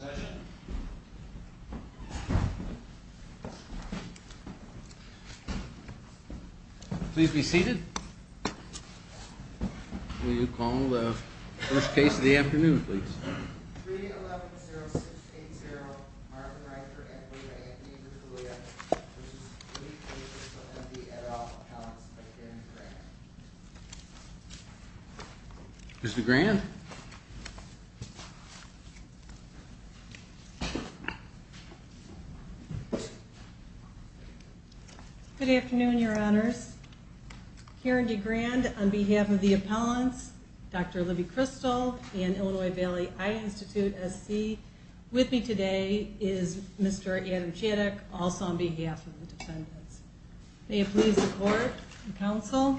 session. Please be seated. Will you call the first case of the afternoon, please? Is the grand Good afternoon, your honors. Karen DeGrand, on behalf of the appellants, Dr. Libby Kristal and Illinois Valley Eye Institute SC. With me today is Mr. Adam Chaddick, also on behalf of the defendants. May it please the court and counsel.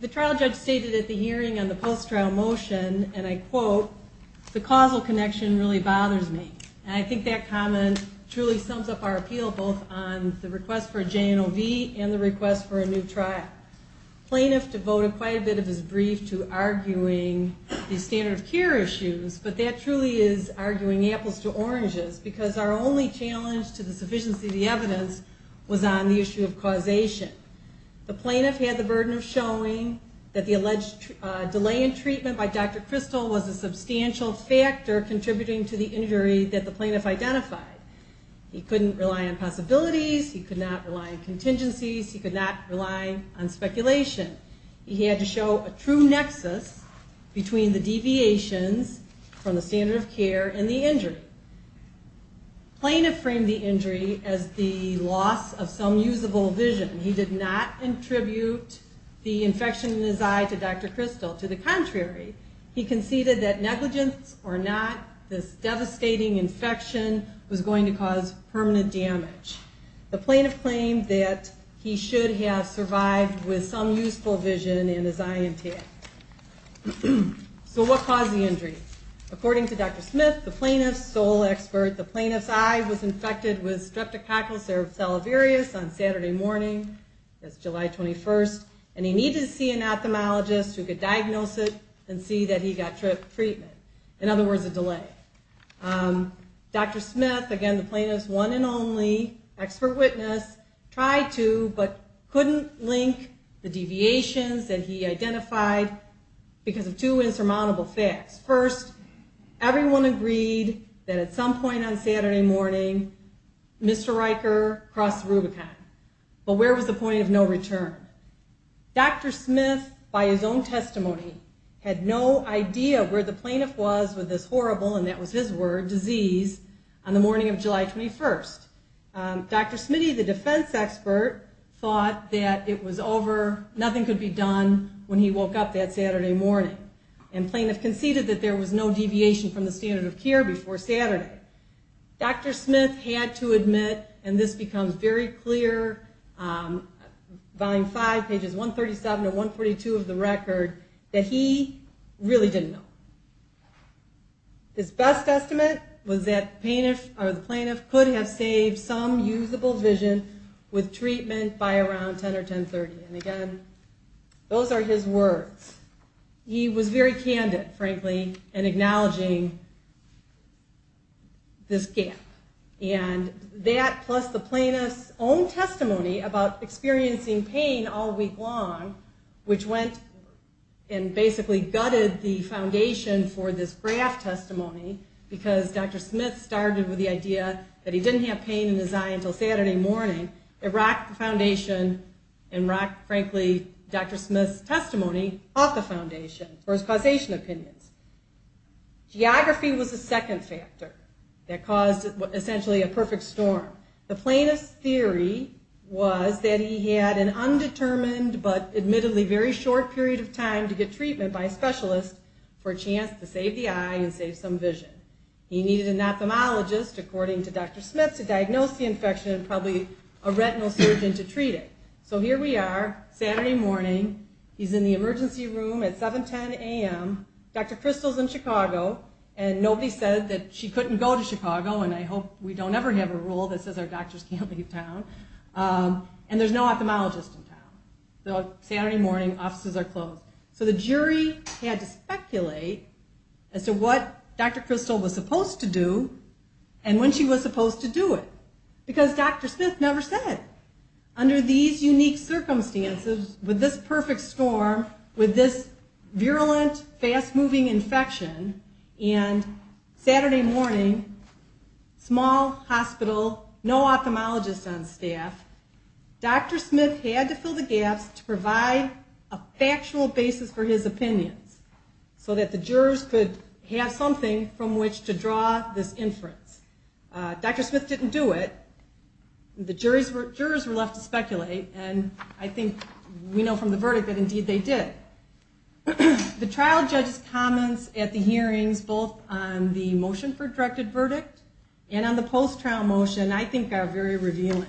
The trial judge stated at the hearing on the post-trial motion, and I quote, the causal connection really bothers me. And I think that comment truly sums up our appeal both on the request for a J&OV and the request for a new trial. Plaintiff devoted quite a bit of his brief to arguing the standard of care issues, but that truly is arguing apples to oranges, because our only challenge to the sufficiency of the evidence was on the issue of causation. The plaintiff had the burden of showing that the alleged delay in treatment by Dr. Kristal was a substantial factor contributing to the injury that the plaintiff identified. He couldn't rely on possibilities, he could not rely on contingencies, he could not rely on speculation. He had to show a true nexus between the deviations from the standard of care and the injury. Plaintiff framed the injury as the loss of some usable vision. He did not attribute the infection in his eye to Dr. Kristal. To the contrary, he conceded that negligence or not, this devastating infection was going to cause permanent damage. The plaintiff claimed that he should have survived with some useful vision in his eye and tail. So what caused the injury? According to Dr. Smith, the plaintiff's sole expert, the plaintiff's eye was infected with streptococcus cerevis on Saturday morning, July 21st, and he needed to see an ophthalmologist who could diagnose it and see that he got treatment. In other words, a delay. Dr. Smith, again, the plaintiff's one and only expert witness, tried to but couldn't link the deviations that he identified because of two insurmountable facts. First, everyone agreed that at some point on Saturday morning, Mr. Riker crossed Rubicon. But where was the point of no return? Dr. Smith, by his own testimony, had no idea where the plaintiff was with this horrible, and that was his word, disease on the morning of July 21st. Dr. Smitty, the defense expert, thought that it was over, nothing could be done when he woke up that Saturday morning. And the plaintiff conceded that there was no deviation from the standard of care before Saturday. Dr. Smith had to admit, and this becomes very clear, Volume 5, pages 137 to 142 of the record, that he really didn't know. His best estimate was that the plaintiff could have saved some usable vision with treatment by around 10 or 10.30. And again, those are his words. He was very candid, frankly, in acknowledging this gap. And that, plus the plaintiff's own testimony about experiencing pain all week long, which went and basically gutted the foundation for this graft testimony, because Dr. Smith started with the idea that he didn't have pain in his eye until Saturday morning. And it rocked the foundation and rocked, frankly, Dr. Smith's testimony off the foundation for his causation opinions. Geography was the second factor that caused essentially a perfect storm. The plaintiff's theory was that he had an undetermined but admittedly very short period of time to get treatment by a specialist for a chance to save the eye and save some vision. He needed an ophthalmologist, according to Dr. Smith, to diagnose the infection and probably a retinal surgeon to treat it. So here we are, Saturday morning, he's in the emergency room at 7.10 a.m., Dr. Crystal's in Chicago, and nobody said that she couldn't go to Chicago, and I hope we don't ever have a rule that says our doctors can't leave town. And there's no ophthalmologist in town. So Saturday morning, offices are closed. So the jury had to speculate as to what Dr. Crystal was supposed to do and when she was supposed to do it, because Dr. Smith never said. Under these unique circumstances, with this perfect storm, with this virulent, fast-moving infection, and Saturday morning, small hospital, no ophthalmologist on staff, Dr. Smith had to fill the gaps to provide a factual basis for his testimony. So that the jurors could have something from which to draw this inference. Dr. Smith didn't do it. The jurors were left to speculate, and I think we know from the verdict that indeed they did. The trial judge's comments at the hearings, both on the motion for directed verdict and on the post-trial motion, I think are very revealing.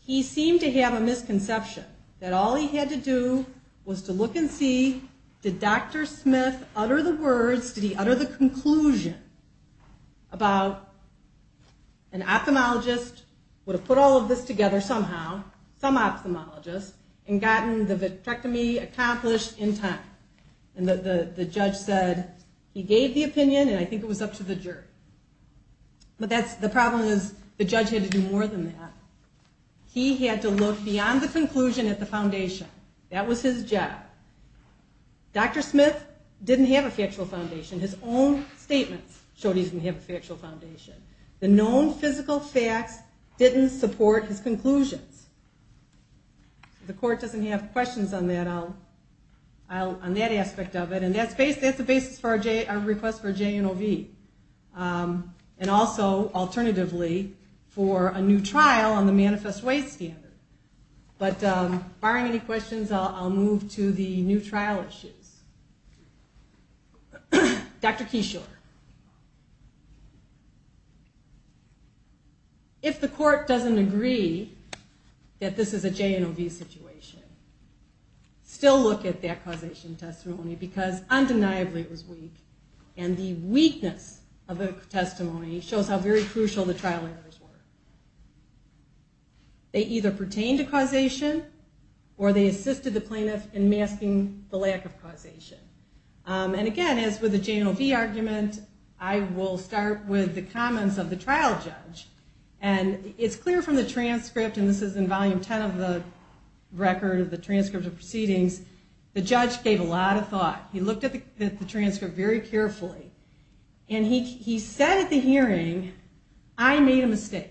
He seemed to have a misconception that all he had to do was to look and see, did Dr. Smith utter the words, did he utter the conclusion about an ophthalmologist would have put all of this together somehow, some ophthalmologist, and gotten the vitrectomy accomplished in time. And the judge said, he gave the opinion, and I think it was up to the jury. But the problem is, the judge had to do more than that. He had to look beyond the conclusion at the foundation. That was his job. Dr. Smith didn't have a factual foundation. His own statements showed he didn't have a factual foundation. The known physical facts didn't support his conclusions. If the court doesn't have questions on that aspect of it, and that's the basis for our request for J&OV. And also, alternatively, for a new trial on the manifest way standard. But barring any questions, I'll move to the new trial issues. Dr. Keyshore, if the court doesn't agree that this is a J&OV situation, still look at that causation testimony, because undeniably it was weak. And the weakness of the testimony shows how very crucial the trial errors were. They either pertained to causation, or they assisted the plaintiff in masking the lack of causation. And again, as with the J&OV argument, I will start with the comments of the trial judge. And it's clear from the transcript, and this is in volume 10 of the record of the transcript of proceedings, the judge gave a lot of thought. He looked at the transcript very carefully. And he said at the hearing, I made a mistake.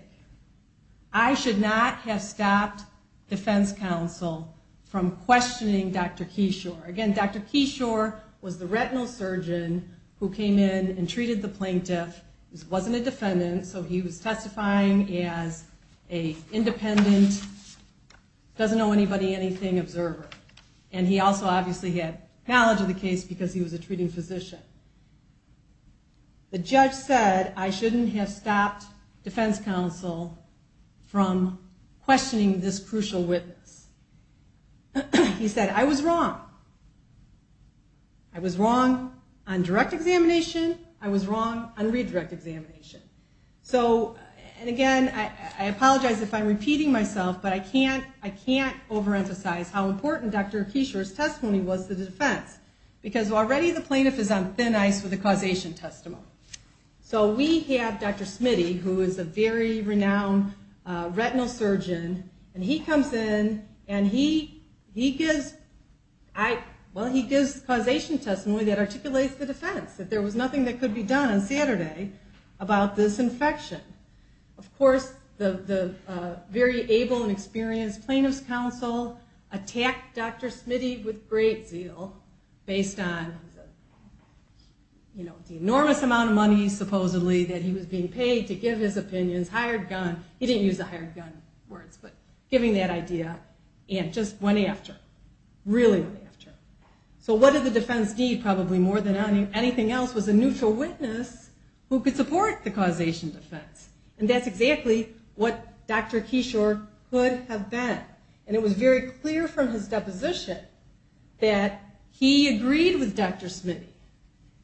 I should not have stopped defense counsel from questioning Dr. Keyshore. Again, Dr. Keyshore was the retinal surgeon who came in and treated the plaintiff, wasn't a defendant, so he was testifying as an independent, doesn't know anybody, anything observer. And he also obviously had knowledge of the case because he was a treating physician. The judge said I shouldn't have stopped defense counsel from questioning this crucial witness. He said I was wrong. I was wrong on direct examination, I was wrong on redirect examination. And again, I apologize if I'm repeating myself, but I can't overemphasize how important Dr. Keyshore's testimony was to the defense. Because already the plaintiff is on thin ice with the causation testimony. So we have Dr. Smitty, who is a very renowned retinal surgeon, and he comes in and he gives causation testimony that articulates the defense, that there was nothing that could be done on Saturday about this infection. Of course, the very able and experienced plaintiff's counsel attacked Dr. Smitty with great zeal, based on the enormous amount of money supposedly that he was being paid to give his opinions, hired gun, he didn't use the hired gun words, but giving that idea, and just went after him. Really went after him. So what did the defense need, probably more than anything else, was a neutral witness who could support the causation defense. And that's exactly what Dr. Keyshore could have been. And it was very clear from his deposition that he agreed with Dr. Smitty,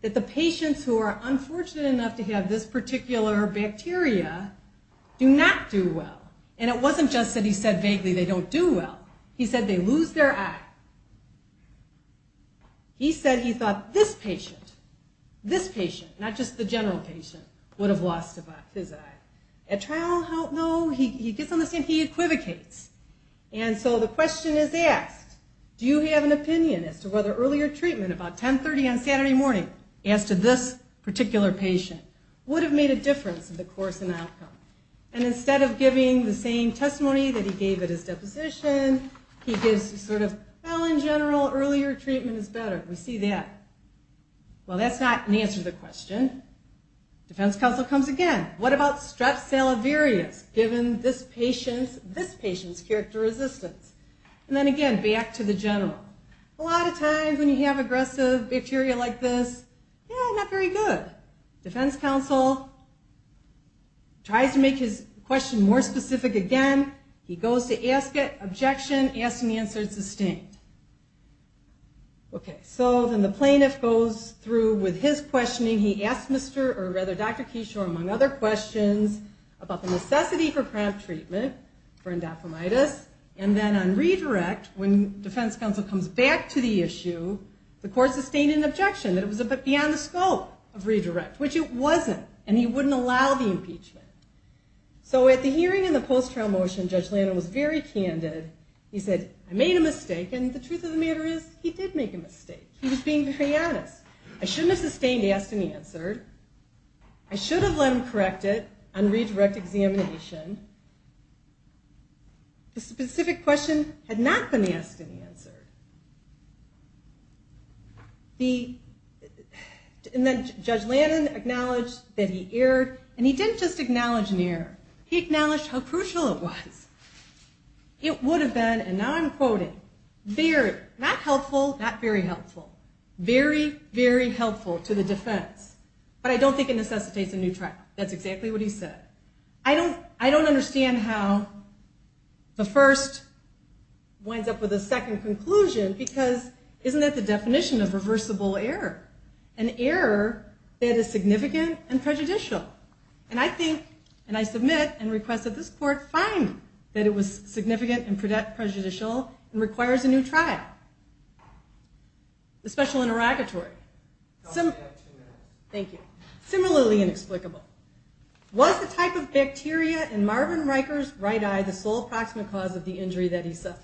that the patients who are unfortunate enough to have this particular bacteria do not do well. And it wasn't just that he said vaguely they don't do well, he said they lose their eye. He said he thought this patient, this patient, not just the general patient, would have lost his eye. At trial, though, he gets on the scene, he equivocates. And so the question is asked, do you have an opinion as to whether earlier treatment about 10.30 on Saturday morning, as to this particular patient, would have made a difference in the course and outcome. And instead of giving the same testimony that he gave at his deposition, he gives sort of, well, in general, earlier treatment is better. We see that. Well, that's not an answer to the question. Defense counsel comes again. What about strep salivarius, given this patient's character resistance? And then again, back to the general. A lot of times when you have aggressive bacteria like this, yeah, not very good. Defense counsel tries to make his question more specific again. He goes to ask it, objection, ask and the answer is sustained. Okay, so then the plaintiff goes through with his questioning. He asks Dr. Keyshore, among other questions, about the necessity for cramp treatment for endophthalmitis. And then on redirect, when defense counsel comes back to the issue, the court sustained an objection that it was beyond the scope of redirect, which it wasn't, and he wouldn't allow the impeachment. So at the hearing in the post-trial motion, Judge Lannon was very candid. He said, I made a mistake, and the truth of the matter is, he did make a mistake. He was being very honest. I shouldn't have sustained asked and answered. I should have let him correct it on redirect examination. The specific question had not been asked and answered. And then Judge Lannon acknowledged that he erred, and he didn't just acknowledge an error. He acknowledged how crucial it was. It would have been, and now I'm quoting, not helpful, not very helpful, very, very helpful to the defense, but I don't think it necessitates a new trial. That's exactly what he said. I don't understand how the first winds up with a second conclusion, because isn't that the definition of reversible error? An error that is significant and prejudicial. And I think, and I submit and request that this court find that it was significant and prejudicial and requires a new trial. The special interrogatory. Thank you. Similarly inexplicable. Was the type of bacteria in Marvin Riker's right eye the sole proximate cause of the injury that he suffered?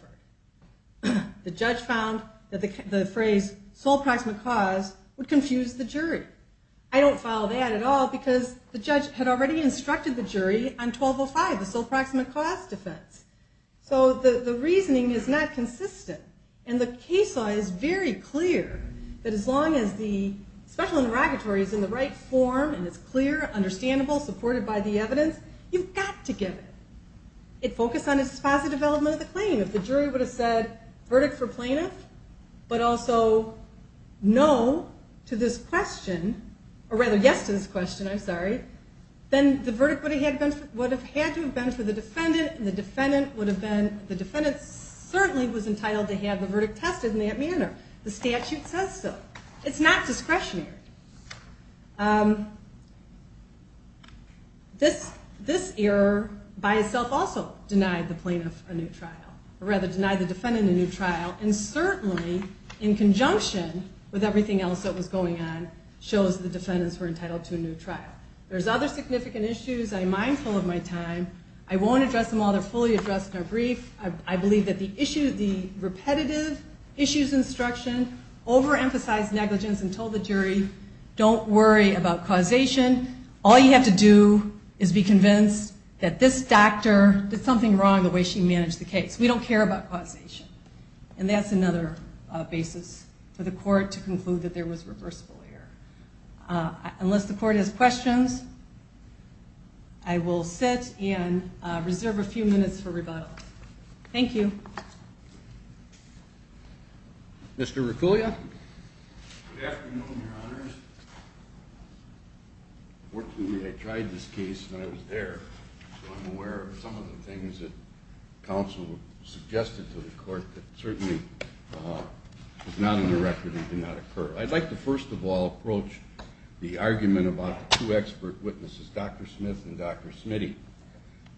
The judge found that the phrase sole proximate cause would confuse the jury. I don't follow that at all, because the judge had already instructed the jury on 1205, the sole proximate cause defense. So the reasoning is not consistent. And the case law is very clear that as long as the special interrogatory is in the right form and it's clear, understandable, supported by the evidence, you've got to give it. It focused on its positive element of the claim. If the jury would have said verdict for plaintiff, but also no to this question, or rather yes to this question, I'm sorry, then the verdict would have had to have been for the defendant, and the defendant certainly was entitled to have the verdict tested in that manner. The statute says so. It's not discretionary. This error by itself also denied the plaintiff a new trial, or rather denied the defendant a new trial, and certainly in conjunction with everything else that was going on shows the defendants were entitled to a new trial. There's other significant issues. I'm mindful of my time. I won't address them all. They're fully addressed in our brief. I believe that the repetitive issues instruction overemphasized negligence and told the jury, don't worry about causation. All you have to do is be convinced that this doctor did something wrong the way she managed the case. We don't care about causation. And that's another basis for the court to conclude that there was reversible error. Unless the court has questions, I will sit and reserve a few minutes for rebuttal. Thank you. Mr. Reculia? Good afternoon, your honors. Fortunately, I tried this case when I was there, so I'm aware of some of the things that counsel suggested to the court that certainly was not in the record and did not occur. I'd like to first of all approach the argument about the two expert witnesses, Dr. Smith and Dr. Smitty.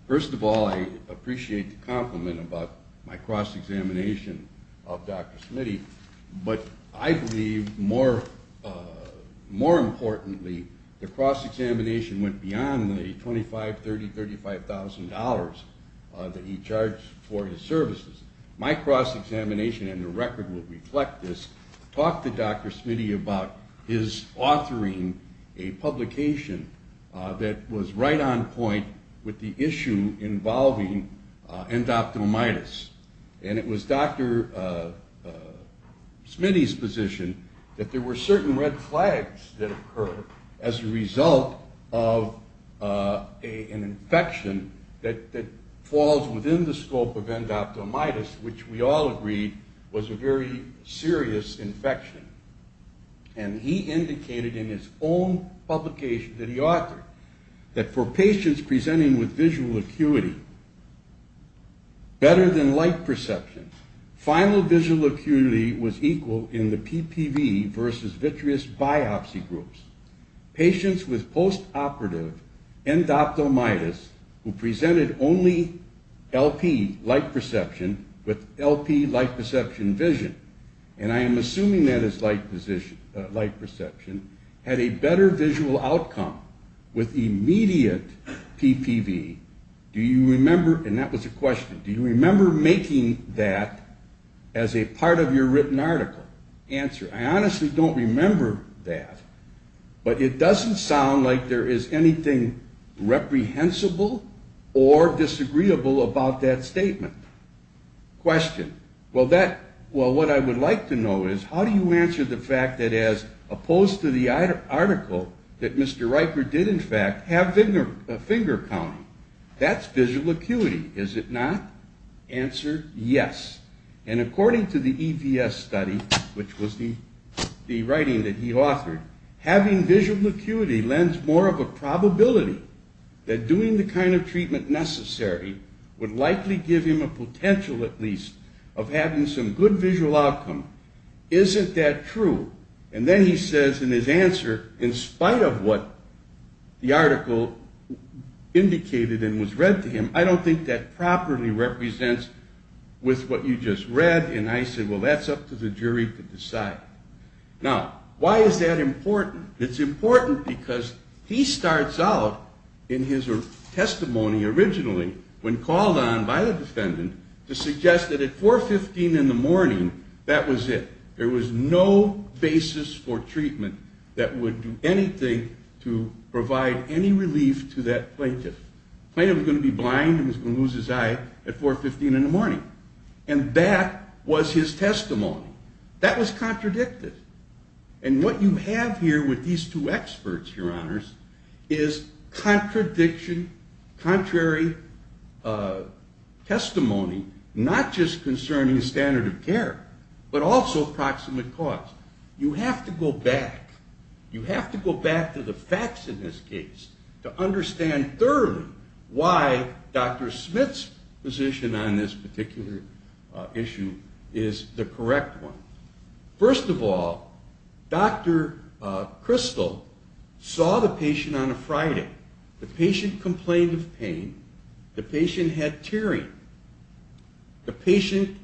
First of all, I appreciate the compliment about my cross-examination of Dr. Smitty, but I believe more importantly the cross-examination went beyond the $25,000, $30,000, $35,000 that he charged for his services. My cross-examination, and the record will reflect this, talked to Dr. Smitty about his authoring a publication that was right on point with the issue involving endophthalmitis. And it was Dr. Smitty's position that there were certain red flags that occurred as a result of an infection that falls within the scope of endophthalmitis, which we all agreed was a very serious infection. And he indicated in his own publication that he authored that for patients presenting with visual acuity better than light perception, final visual acuity was equal in the PPV versus vitreous biopsy groups. Patients with post-operative endophthalmitis who presented only LP, light perception, with LP, light perception vision, and I am assuming that is light perception, had a better visual outcome with immediate PPV. Do you remember, and that was a question, do you remember making that as a part of your written article? Answer, I honestly don't remember that, but it doesn't sound like there is anything reprehensible or disagreeable about that statement. Question. Well, what I would like to know is how do you answer the fact that as opposed to the article that Mr. Riker did in fact have finger counting, that's visual acuity, is it not? Answer, yes. And according to the EVS study, which was the writing that he authored, having visual acuity lends more of a probability that doing the kind of treatment necessary would likely give him a potential at least of having some good visual outcome. Isn't that true? And then he says in his answer, in spite of what the article indicated and was read to him, I don't think that properly represents with what you just read. And I said, well, that's up to the jury to decide. Now, why is that important? It's important because he starts out in his testimony originally when called on by the defendant to suggest that at 4.15 in the morning, that was it. There was no basis for treatment that would do anything to provide any relief to that plaintiff. The plaintiff was going to be blind and was going to lose his eye at 4.15 in the morning. And that was his testimony. That was contradicted. And what you have here with these two experts, your honors, is contradiction, contrary testimony, not just concerning standard of care, but also proximate cause. You have to go back. You have to go back to the facts in this case to understand thoroughly why Dr. Smith's position on this particular issue is the correct one. First of all, Dr. Crystal saw the patient on a Friday. The patient complained of pain. The patient had tearing. The patient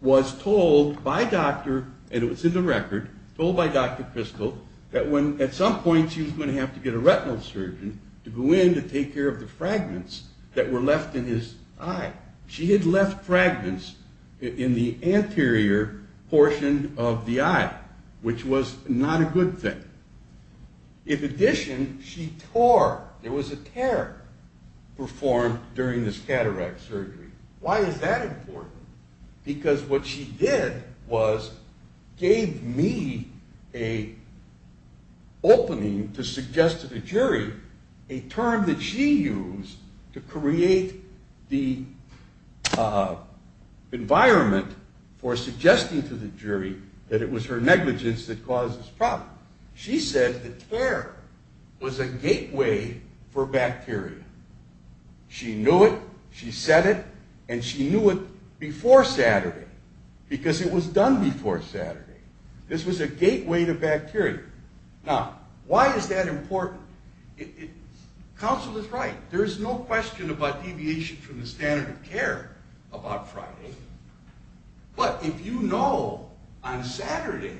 was told by doctor, and it was in the record, told by Dr. Crystal, that at some point she was going to have to get a retinal surgeon to go in to take care of the fragments that were left in his eye. She had left fragments in the anterior portion of the eye, which was not a good thing. In addition, she tore. There was a tear performed during this cataract surgery. Why is that important? Because what she did was gave me an opening to suggest to the jury a term that she used to create the environment for suggesting to the jury that it was her negligence that caused this problem. She said the tear was a gateway for bacteria. She knew it. She said it. And she knew it before Saturday, because it was done before Saturday. This was a gateway to bacteria. Now, why is that important? Counsel is right. There is no question about deviation from the standard of care about Friday. But if you know on Saturday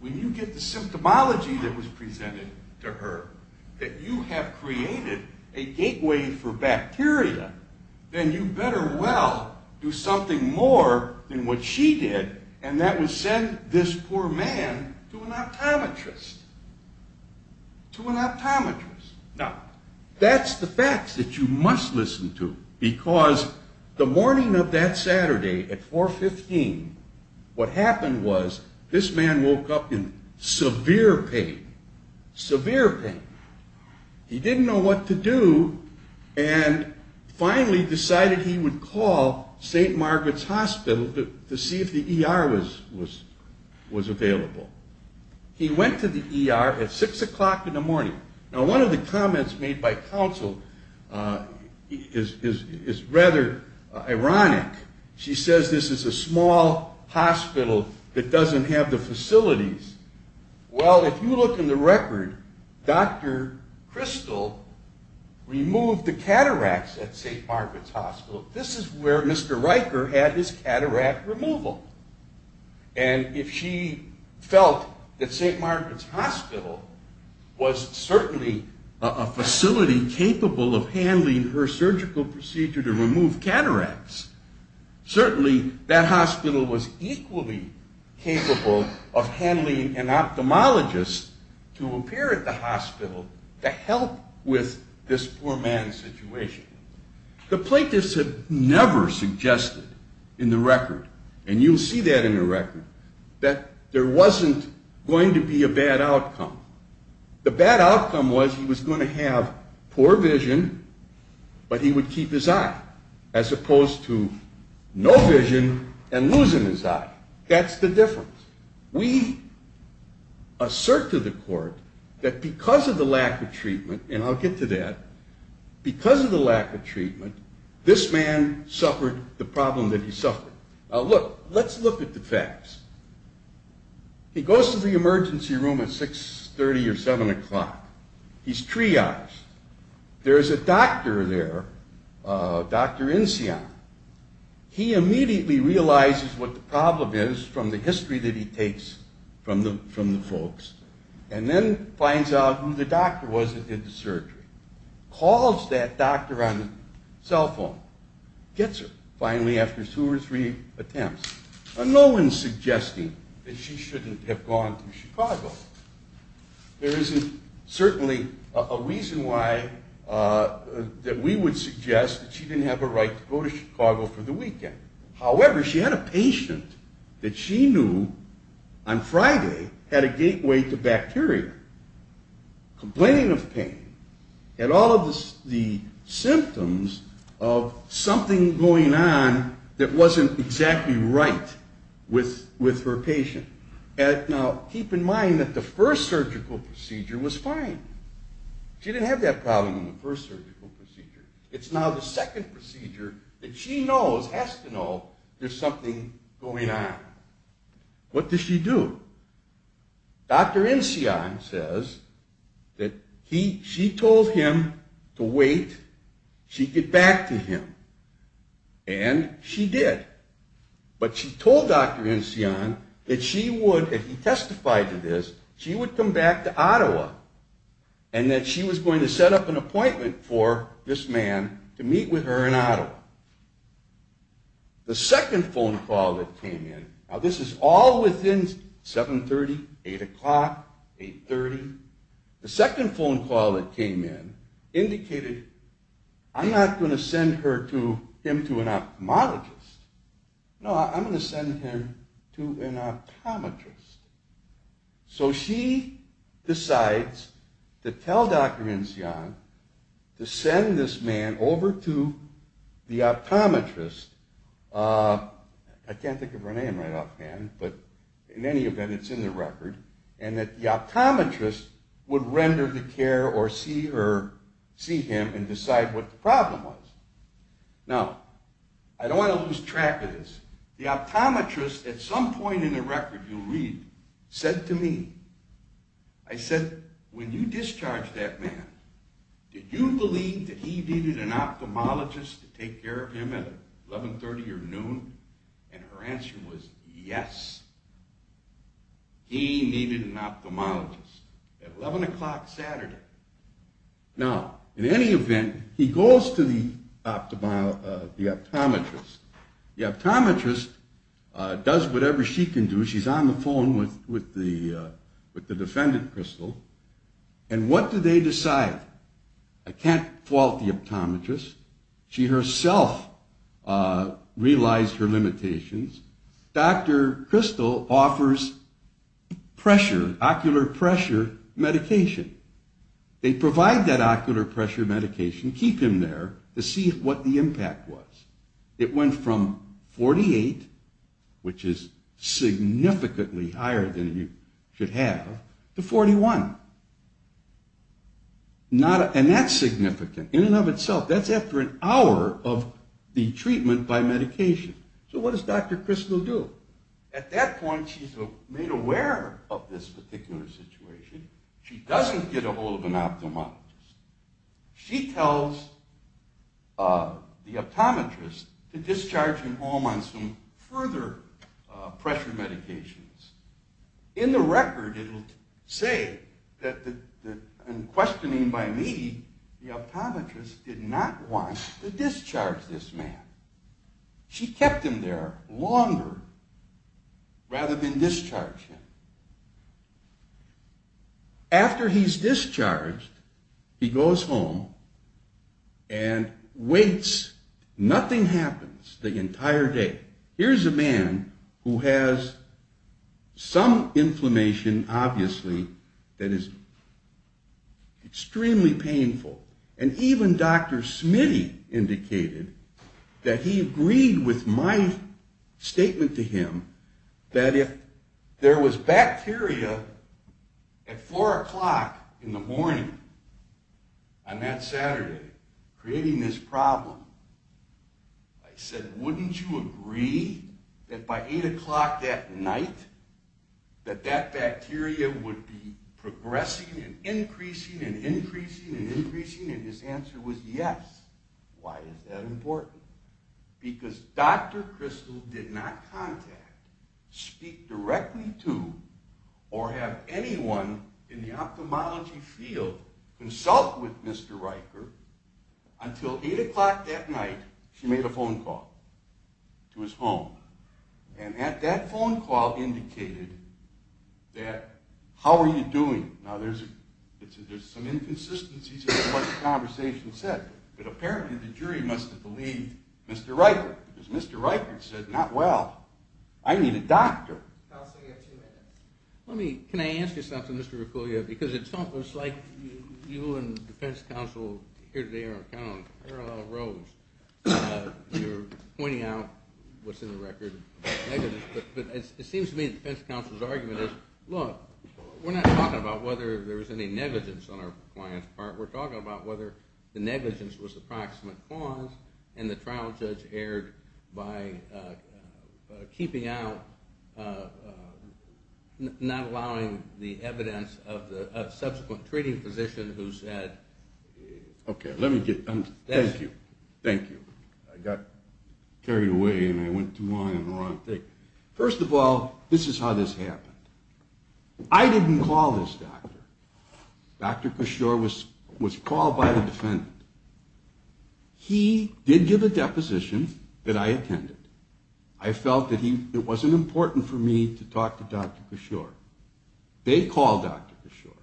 when you get the symptomology that was presented to her that you have created a gateway for bacteria, then you better well do something more than what she did, and that was send this poor man to an optometrist. To an optometrist. Now, that's the facts that you must listen to, because the morning of that Saturday at 4.15, what happened was this man woke up in severe pain, severe pain. He didn't know what to do, and finally decided he would call St. Margaret's Hospital to see if the ER was available. He went to the ER at 6 o'clock in the morning. Now, one of the comments made by counsel is rather ironic. She says this is a small hospital that doesn't have the facilities. Well, if you look in the record, Dr. Crystal removed the cataracts at St. Margaret's Hospital. This is where Mr. Riker had his cataract removal, and if she felt that St. Margaret's Hospital was certainly a facility capable of handling her surgical procedure to remove cataracts, certainly that hospital was equally capable of handling an ophthalmologist to appear at the hospital to help with this poor man's situation. The plaintiffs have never suggested in the record, and you'll see that in the record, that there wasn't going to be a bad outcome. The bad outcome was he was going to have poor vision, but he would keep his eye, as opposed to no vision and losing his eye. That's the difference. We assert to the court that because of the lack of treatment, and I'll get to that, because of the lack of treatment, this man suffered the problem that he suffered. Now, look, let's look at the facts. He goes to the emergency room at 6.30 or 7 o'clock. He's triaged. There is a doctor there, Dr. Insion. He immediately realizes what the problem is from the history that he takes from the folks, and then finds out who the doctor was that did the surgery, calls that doctor on the cell phone, gets her finally after two or three attempts. Now, no one's suggesting that she shouldn't have gone to Chicago. There isn't certainly a reason why that we would suggest that she didn't have a right to go to Chicago for the weekend. with her patient. Now, keep in mind that the first surgical procedure was fine. She didn't have that problem in the first surgical procedure. It's now the second procedure that she knows, has to know, there's something going on. What does she do? Dr. Insion says that she told him to wait. She get back to him, and she did. But she told Dr. Insion that she would, if he testified to this, she would come back to Ottawa, and that she was going to set up an appointment for this man to meet with her in Ottawa. The second phone call that came in, now this is all within 7.30, 8 o'clock, 8.30. The second phone call that came in indicated, I'm not going to send him to an ophthalmologist. No, I'm going to send him to an optometrist. So she decides to tell Dr. Insion to send this man over to the optometrist. I can't think of her name right offhand, but in any event, it's in the record, and that the optometrist would render the care or see her, see him, and decide what the problem was. Now, I don't want to lose track of this. The optometrist, at some point in the record you'll read, said to me, I said, when you discharged that man, did you believe that he needed an ophthalmologist to take care of him at 11.30 or noon? And her answer was yes. He needed an ophthalmologist at 11 o'clock Saturday. Now, in any event, he goes to the optometrist. The optometrist does whatever she can do. She's on the phone with the defendant, Crystal, and what do they decide? I can't fault the optometrist. She herself realized her limitations. Dr. Crystal offers pressure, ocular pressure medication. They provide that ocular pressure medication, keep him there, to see what the impact was. It went from 48, which is significantly higher than you should have, to 41. And that's significant in and of itself. That's after an hour of the treatment by medication. So what does Dr. Crystal do? At that point, she's made aware of this particular situation. She doesn't get a hold of an ophthalmologist. She tells the optometrist to discharge him home on some further pressure medications. In the record, it'll say that, in questioning by me, the optometrist did not want to discharge this man. She kept him there longer rather than discharge him. After he's discharged, he goes home and waits. Nothing happens the entire day. Here's a man who has some inflammation, obviously, that is extremely painful. And even Dr. Smitty indicated that he agreed with my statement to him that if there was bacteria at 4 o'clock in the morning on that Saturday, creating this problem, I said, wouldn't you agree that by 8 o'clock that night that that bacteria would be progressing and increasing and increasing and increasing? And his answer was yes. Why is that important? Because Dr. Crystal did not contact, speak directly to, or have anyone in the ophthalmology field consult with Mr. Riker until 8 o'clock that night she made a phone call to his home. And at that phone call indicated that, how are you doing? Now, there's some inconsistencies in what the conversation said, but apparently the jury must have believed Mr. Riker because Mr. Riker said, not well. I need a doctor. Let me – can I ask you something, Mr. Rikulia? Because it's almost like you and the defense counsel here today are kind of on parallel roads. You're pointing out what's in the record, but it seems to me that the defense counsel's argument is, look, we're not talking about whether there was any negligence on our client's part. We're talking about whether the negligence was the proximate cause and the trial judge erred by keeping out, not allowing the evidence of the subsequent treating physician who said – Thank you. Thank you. I got carried away and I went too long on the wrong thing. First of all, this is how this happened. I didn't call this doctor. Dr. Cashore was called by the defendant. He did give a deposition that I attended. I felt that it wasn't important for me to talk to Dr. Cashore. They called Dr. Cashore.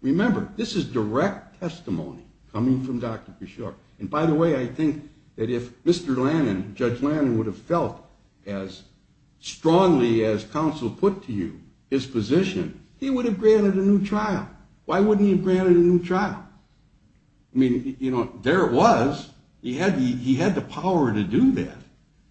Remember, this is direct testimony coming from Dr. Cashore. And by the way, I think that if Mr. Lannan, Judge Lannan, would have felt as strongly as counsel put to you his position, he would have granted a new trial. Why wouldn't he have granted a new trial? I mean, there it was. He had the power to do that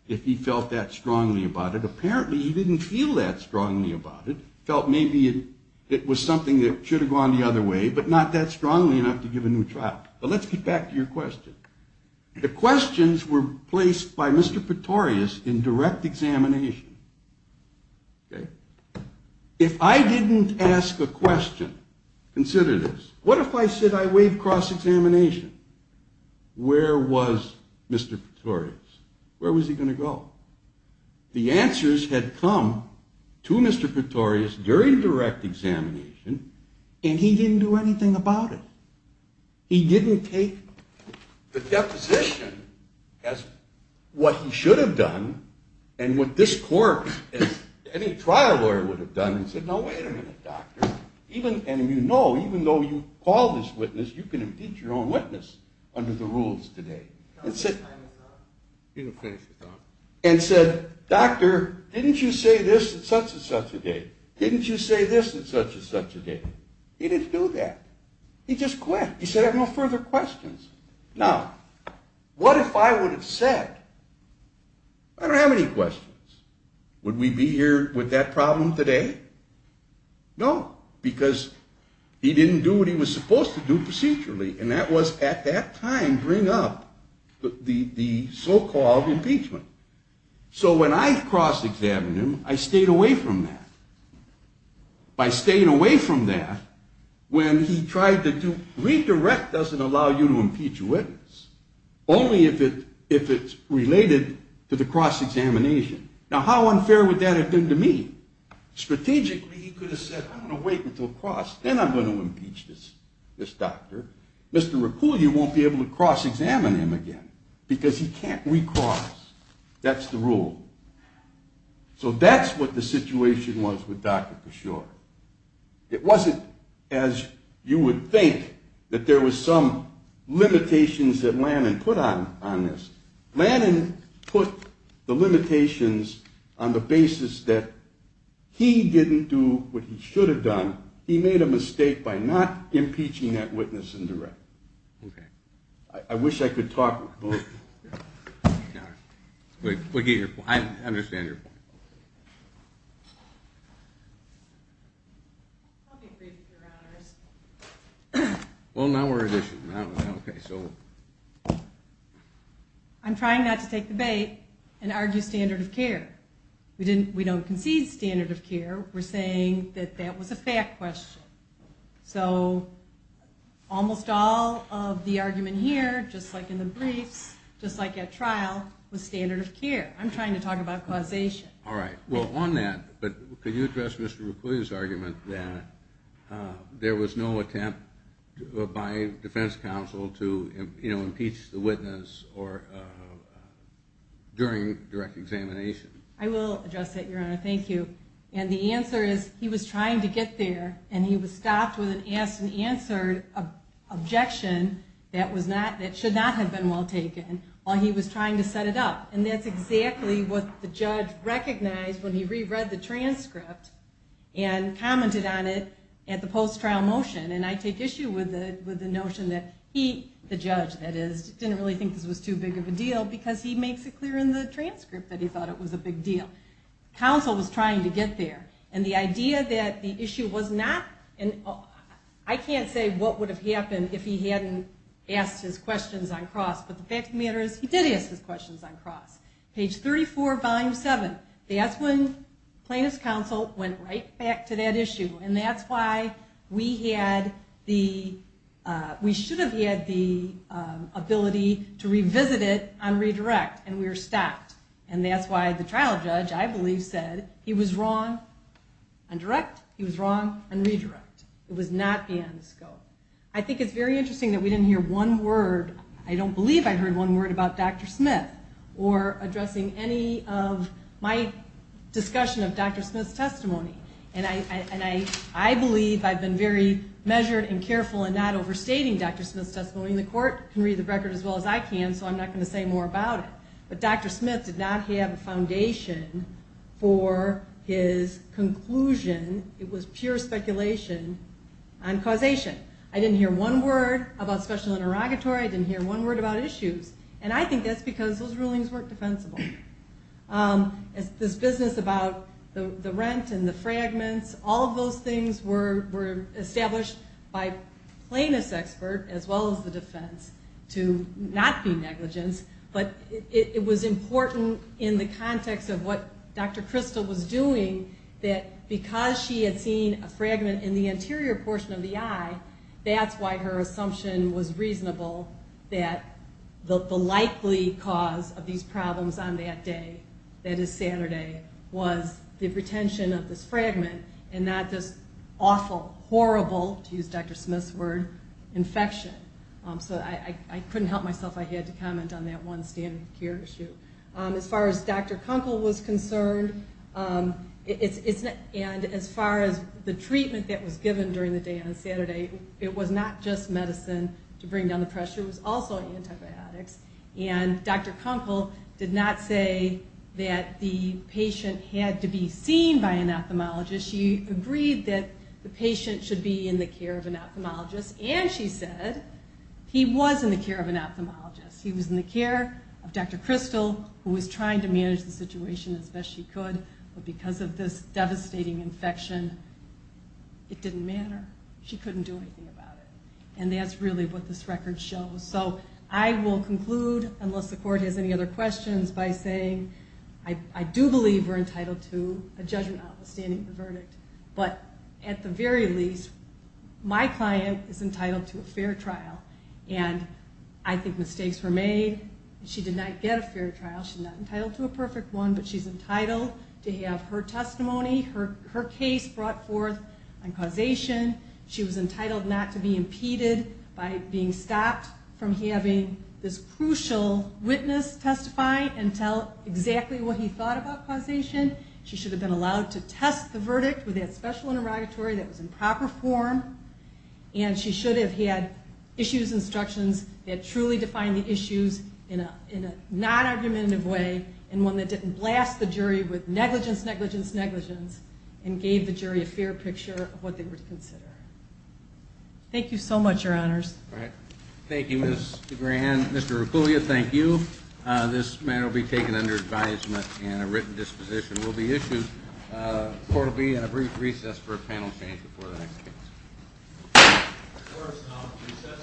if he felt that strongly about it. Apparently, he didn't feel that strongly about it, felt maybe it was something that should have gone the other way, but not that strongly enough to give a new trial. But let's get back to your question. The questions were placed by Mr. Pretorius in direct examination. If I didn't ask a question, consider this, what if I said I waived cross-examination? Where was Mr. Pretorius? Where was he going to go? The answers had come to Mr. Pretorius during direct examination, and he didn't do anything about it. He didn't take the deposition as what he should have done and what this court, as any trial lawyer would have done, and said, no, wait a minute, doctor. And you know, even though you called this witness, you can impeach your own witness under the rules today. He didn't finish the thought. And said, doctor, didn't you say this at such and such a date? Didn't you say this at such and such a date? He didn't do that. He just quit. He said I have no further questions. Now, what if I would have said, I don't have any questions. Would we be here with that problem today? No, because he didn't do what he was supposed to do procedurally, and that was at that time bring up the so-called impeachment. So when I cross-examined him, I stayed away from that. By staying away from that, when he tried to redirect us and allow you to impeach a witness, only if it's related to the cross-examination. Now, how unfair would that have been to me? Strategically, he could have said, I'm going to wait until cross, then I'm going to impeach this doctor. Mr. Raccool, you won't be able to cross-examine him again, because he can't recross. That's the rule. So that's what the situation was with Dr. Kishore. It wasn't as you would think that there was some limitations that Lannan put on this. Lannan put the limitations on the basis that he didn't do what he should have done. He made a mistake by not impeaching that witness in direct. I wish I could talk about that. I'm trying not to take the bait and argue standard of care. We don't concede standard of care. We're saying that that was a fact question. So almost all of the argument here, just like in the briefs, just like at trial, is that Lannan did not do what he should have done. I will address that, Your Honor. Thank you. And the answer is, he was trying to get there, and he was stopped with an asked-and-answered objection that should not have been well taken, while he was trying to set a standard of care. And that's exactly what the judge recognized when he reread the transcript and commented on it at the post-trial motion. And I take issue with the notion that he, the judge, didn't really think this was too big of a deal, because he makes it clear in the transcript that he thought it was a big deal. And counsel was trying to get there. And the idea that the issue was not... I can't say what would have happened if he hadn't asked his questions on cross, but the fact of the matter is, he did ask his questions on cross. Page 34, volume 7. That's when plaintiff's counsel went right back to that issue. And that's why we should have had the ability to revisit it on redirect, and we were stopped. And that's why the trial judge, I believe, said he was wrong on direct, he was wrong on redirect. It was not beyond the scope. I think it's very interesting that we didn't hear one word, I don't believe I heard one word about Dr. Smith, or addressing any of my discussion of Dr. Smith's testimony. And I believe I've been very measured and careful in not overstating Dr. Smith's testimony, and the court can read the record as well as I can, so I'm not going to say more about it. But Dr. Smith did not have a foundation for his conclusion. It was pure speculation on causation. I didn't hear one word about special interrogatory, I didn't hear one word about issues. And I think that's because those rulings weren't defensible. This business about the rent and the fragments, all of those things were established by plaintiff's expert, as well as the defense, to not be negligence. But it was important in the context of what Dr. Crystal was doing, that because she had seen a fragment in the anterior portion of the eye, that's why her assumption was reasonable that the likely cause of these problems on the day, that is Saturday, was the retention of this fragment, and not this awful, horrible, to use Dr. Smith's word, infection. So I couldn't help myself, I had to comment on that one standard care issue. As far as Dr. Kunkel was concerned, and as far as the treatment that was given during the day on Saturday, it was not just medicine to bring down the pressure, it was also antibiotics. And Dr. Kunkel did not say that the patient had to be seen by an ophthalmologist. She agreed that the patient should be in the care of an ophthalmologist, and she said he was in the care of an ophthalmologist. He was in the care of Dr. Crystal, who was trying to manage the situation as best she could, but because of this devastating infection, it didn't matter. She couldn't do anything about it. And that's really what this record shows. So I will conclude, unless the court has any other questions, by saying I do believe we're entitled to a judgment notwithstanding the verdict, but at the very least, my client is entitled to a fair trial, and I think mistakes were made. She did not get a fair trial. She's not entitled to a perfect one, but she's entitled to have her testimony, her case brought forth on causation. She was entitled not to be impeded by being stopped, and she was entitled to be prevented from having this crucial witness testify and tell exactly what he thought about causation. She should have been allowed to test the verdict with that special interrogatory that was in proper form, and she should have had issues, instructions that truly defined the issues in a non-argumentative way, and one that didn't blast the jury with negligence, negligence, negligence, and gave the jury a fair picture of what they were to consider. Thank you so much, Your Honors. Thank you, Ms. DeGran. Mr. Reculia, thank you. This matter will be taken under advisement and a written disposition will be issued. Court will be in a brief recess for a panel change before the next case.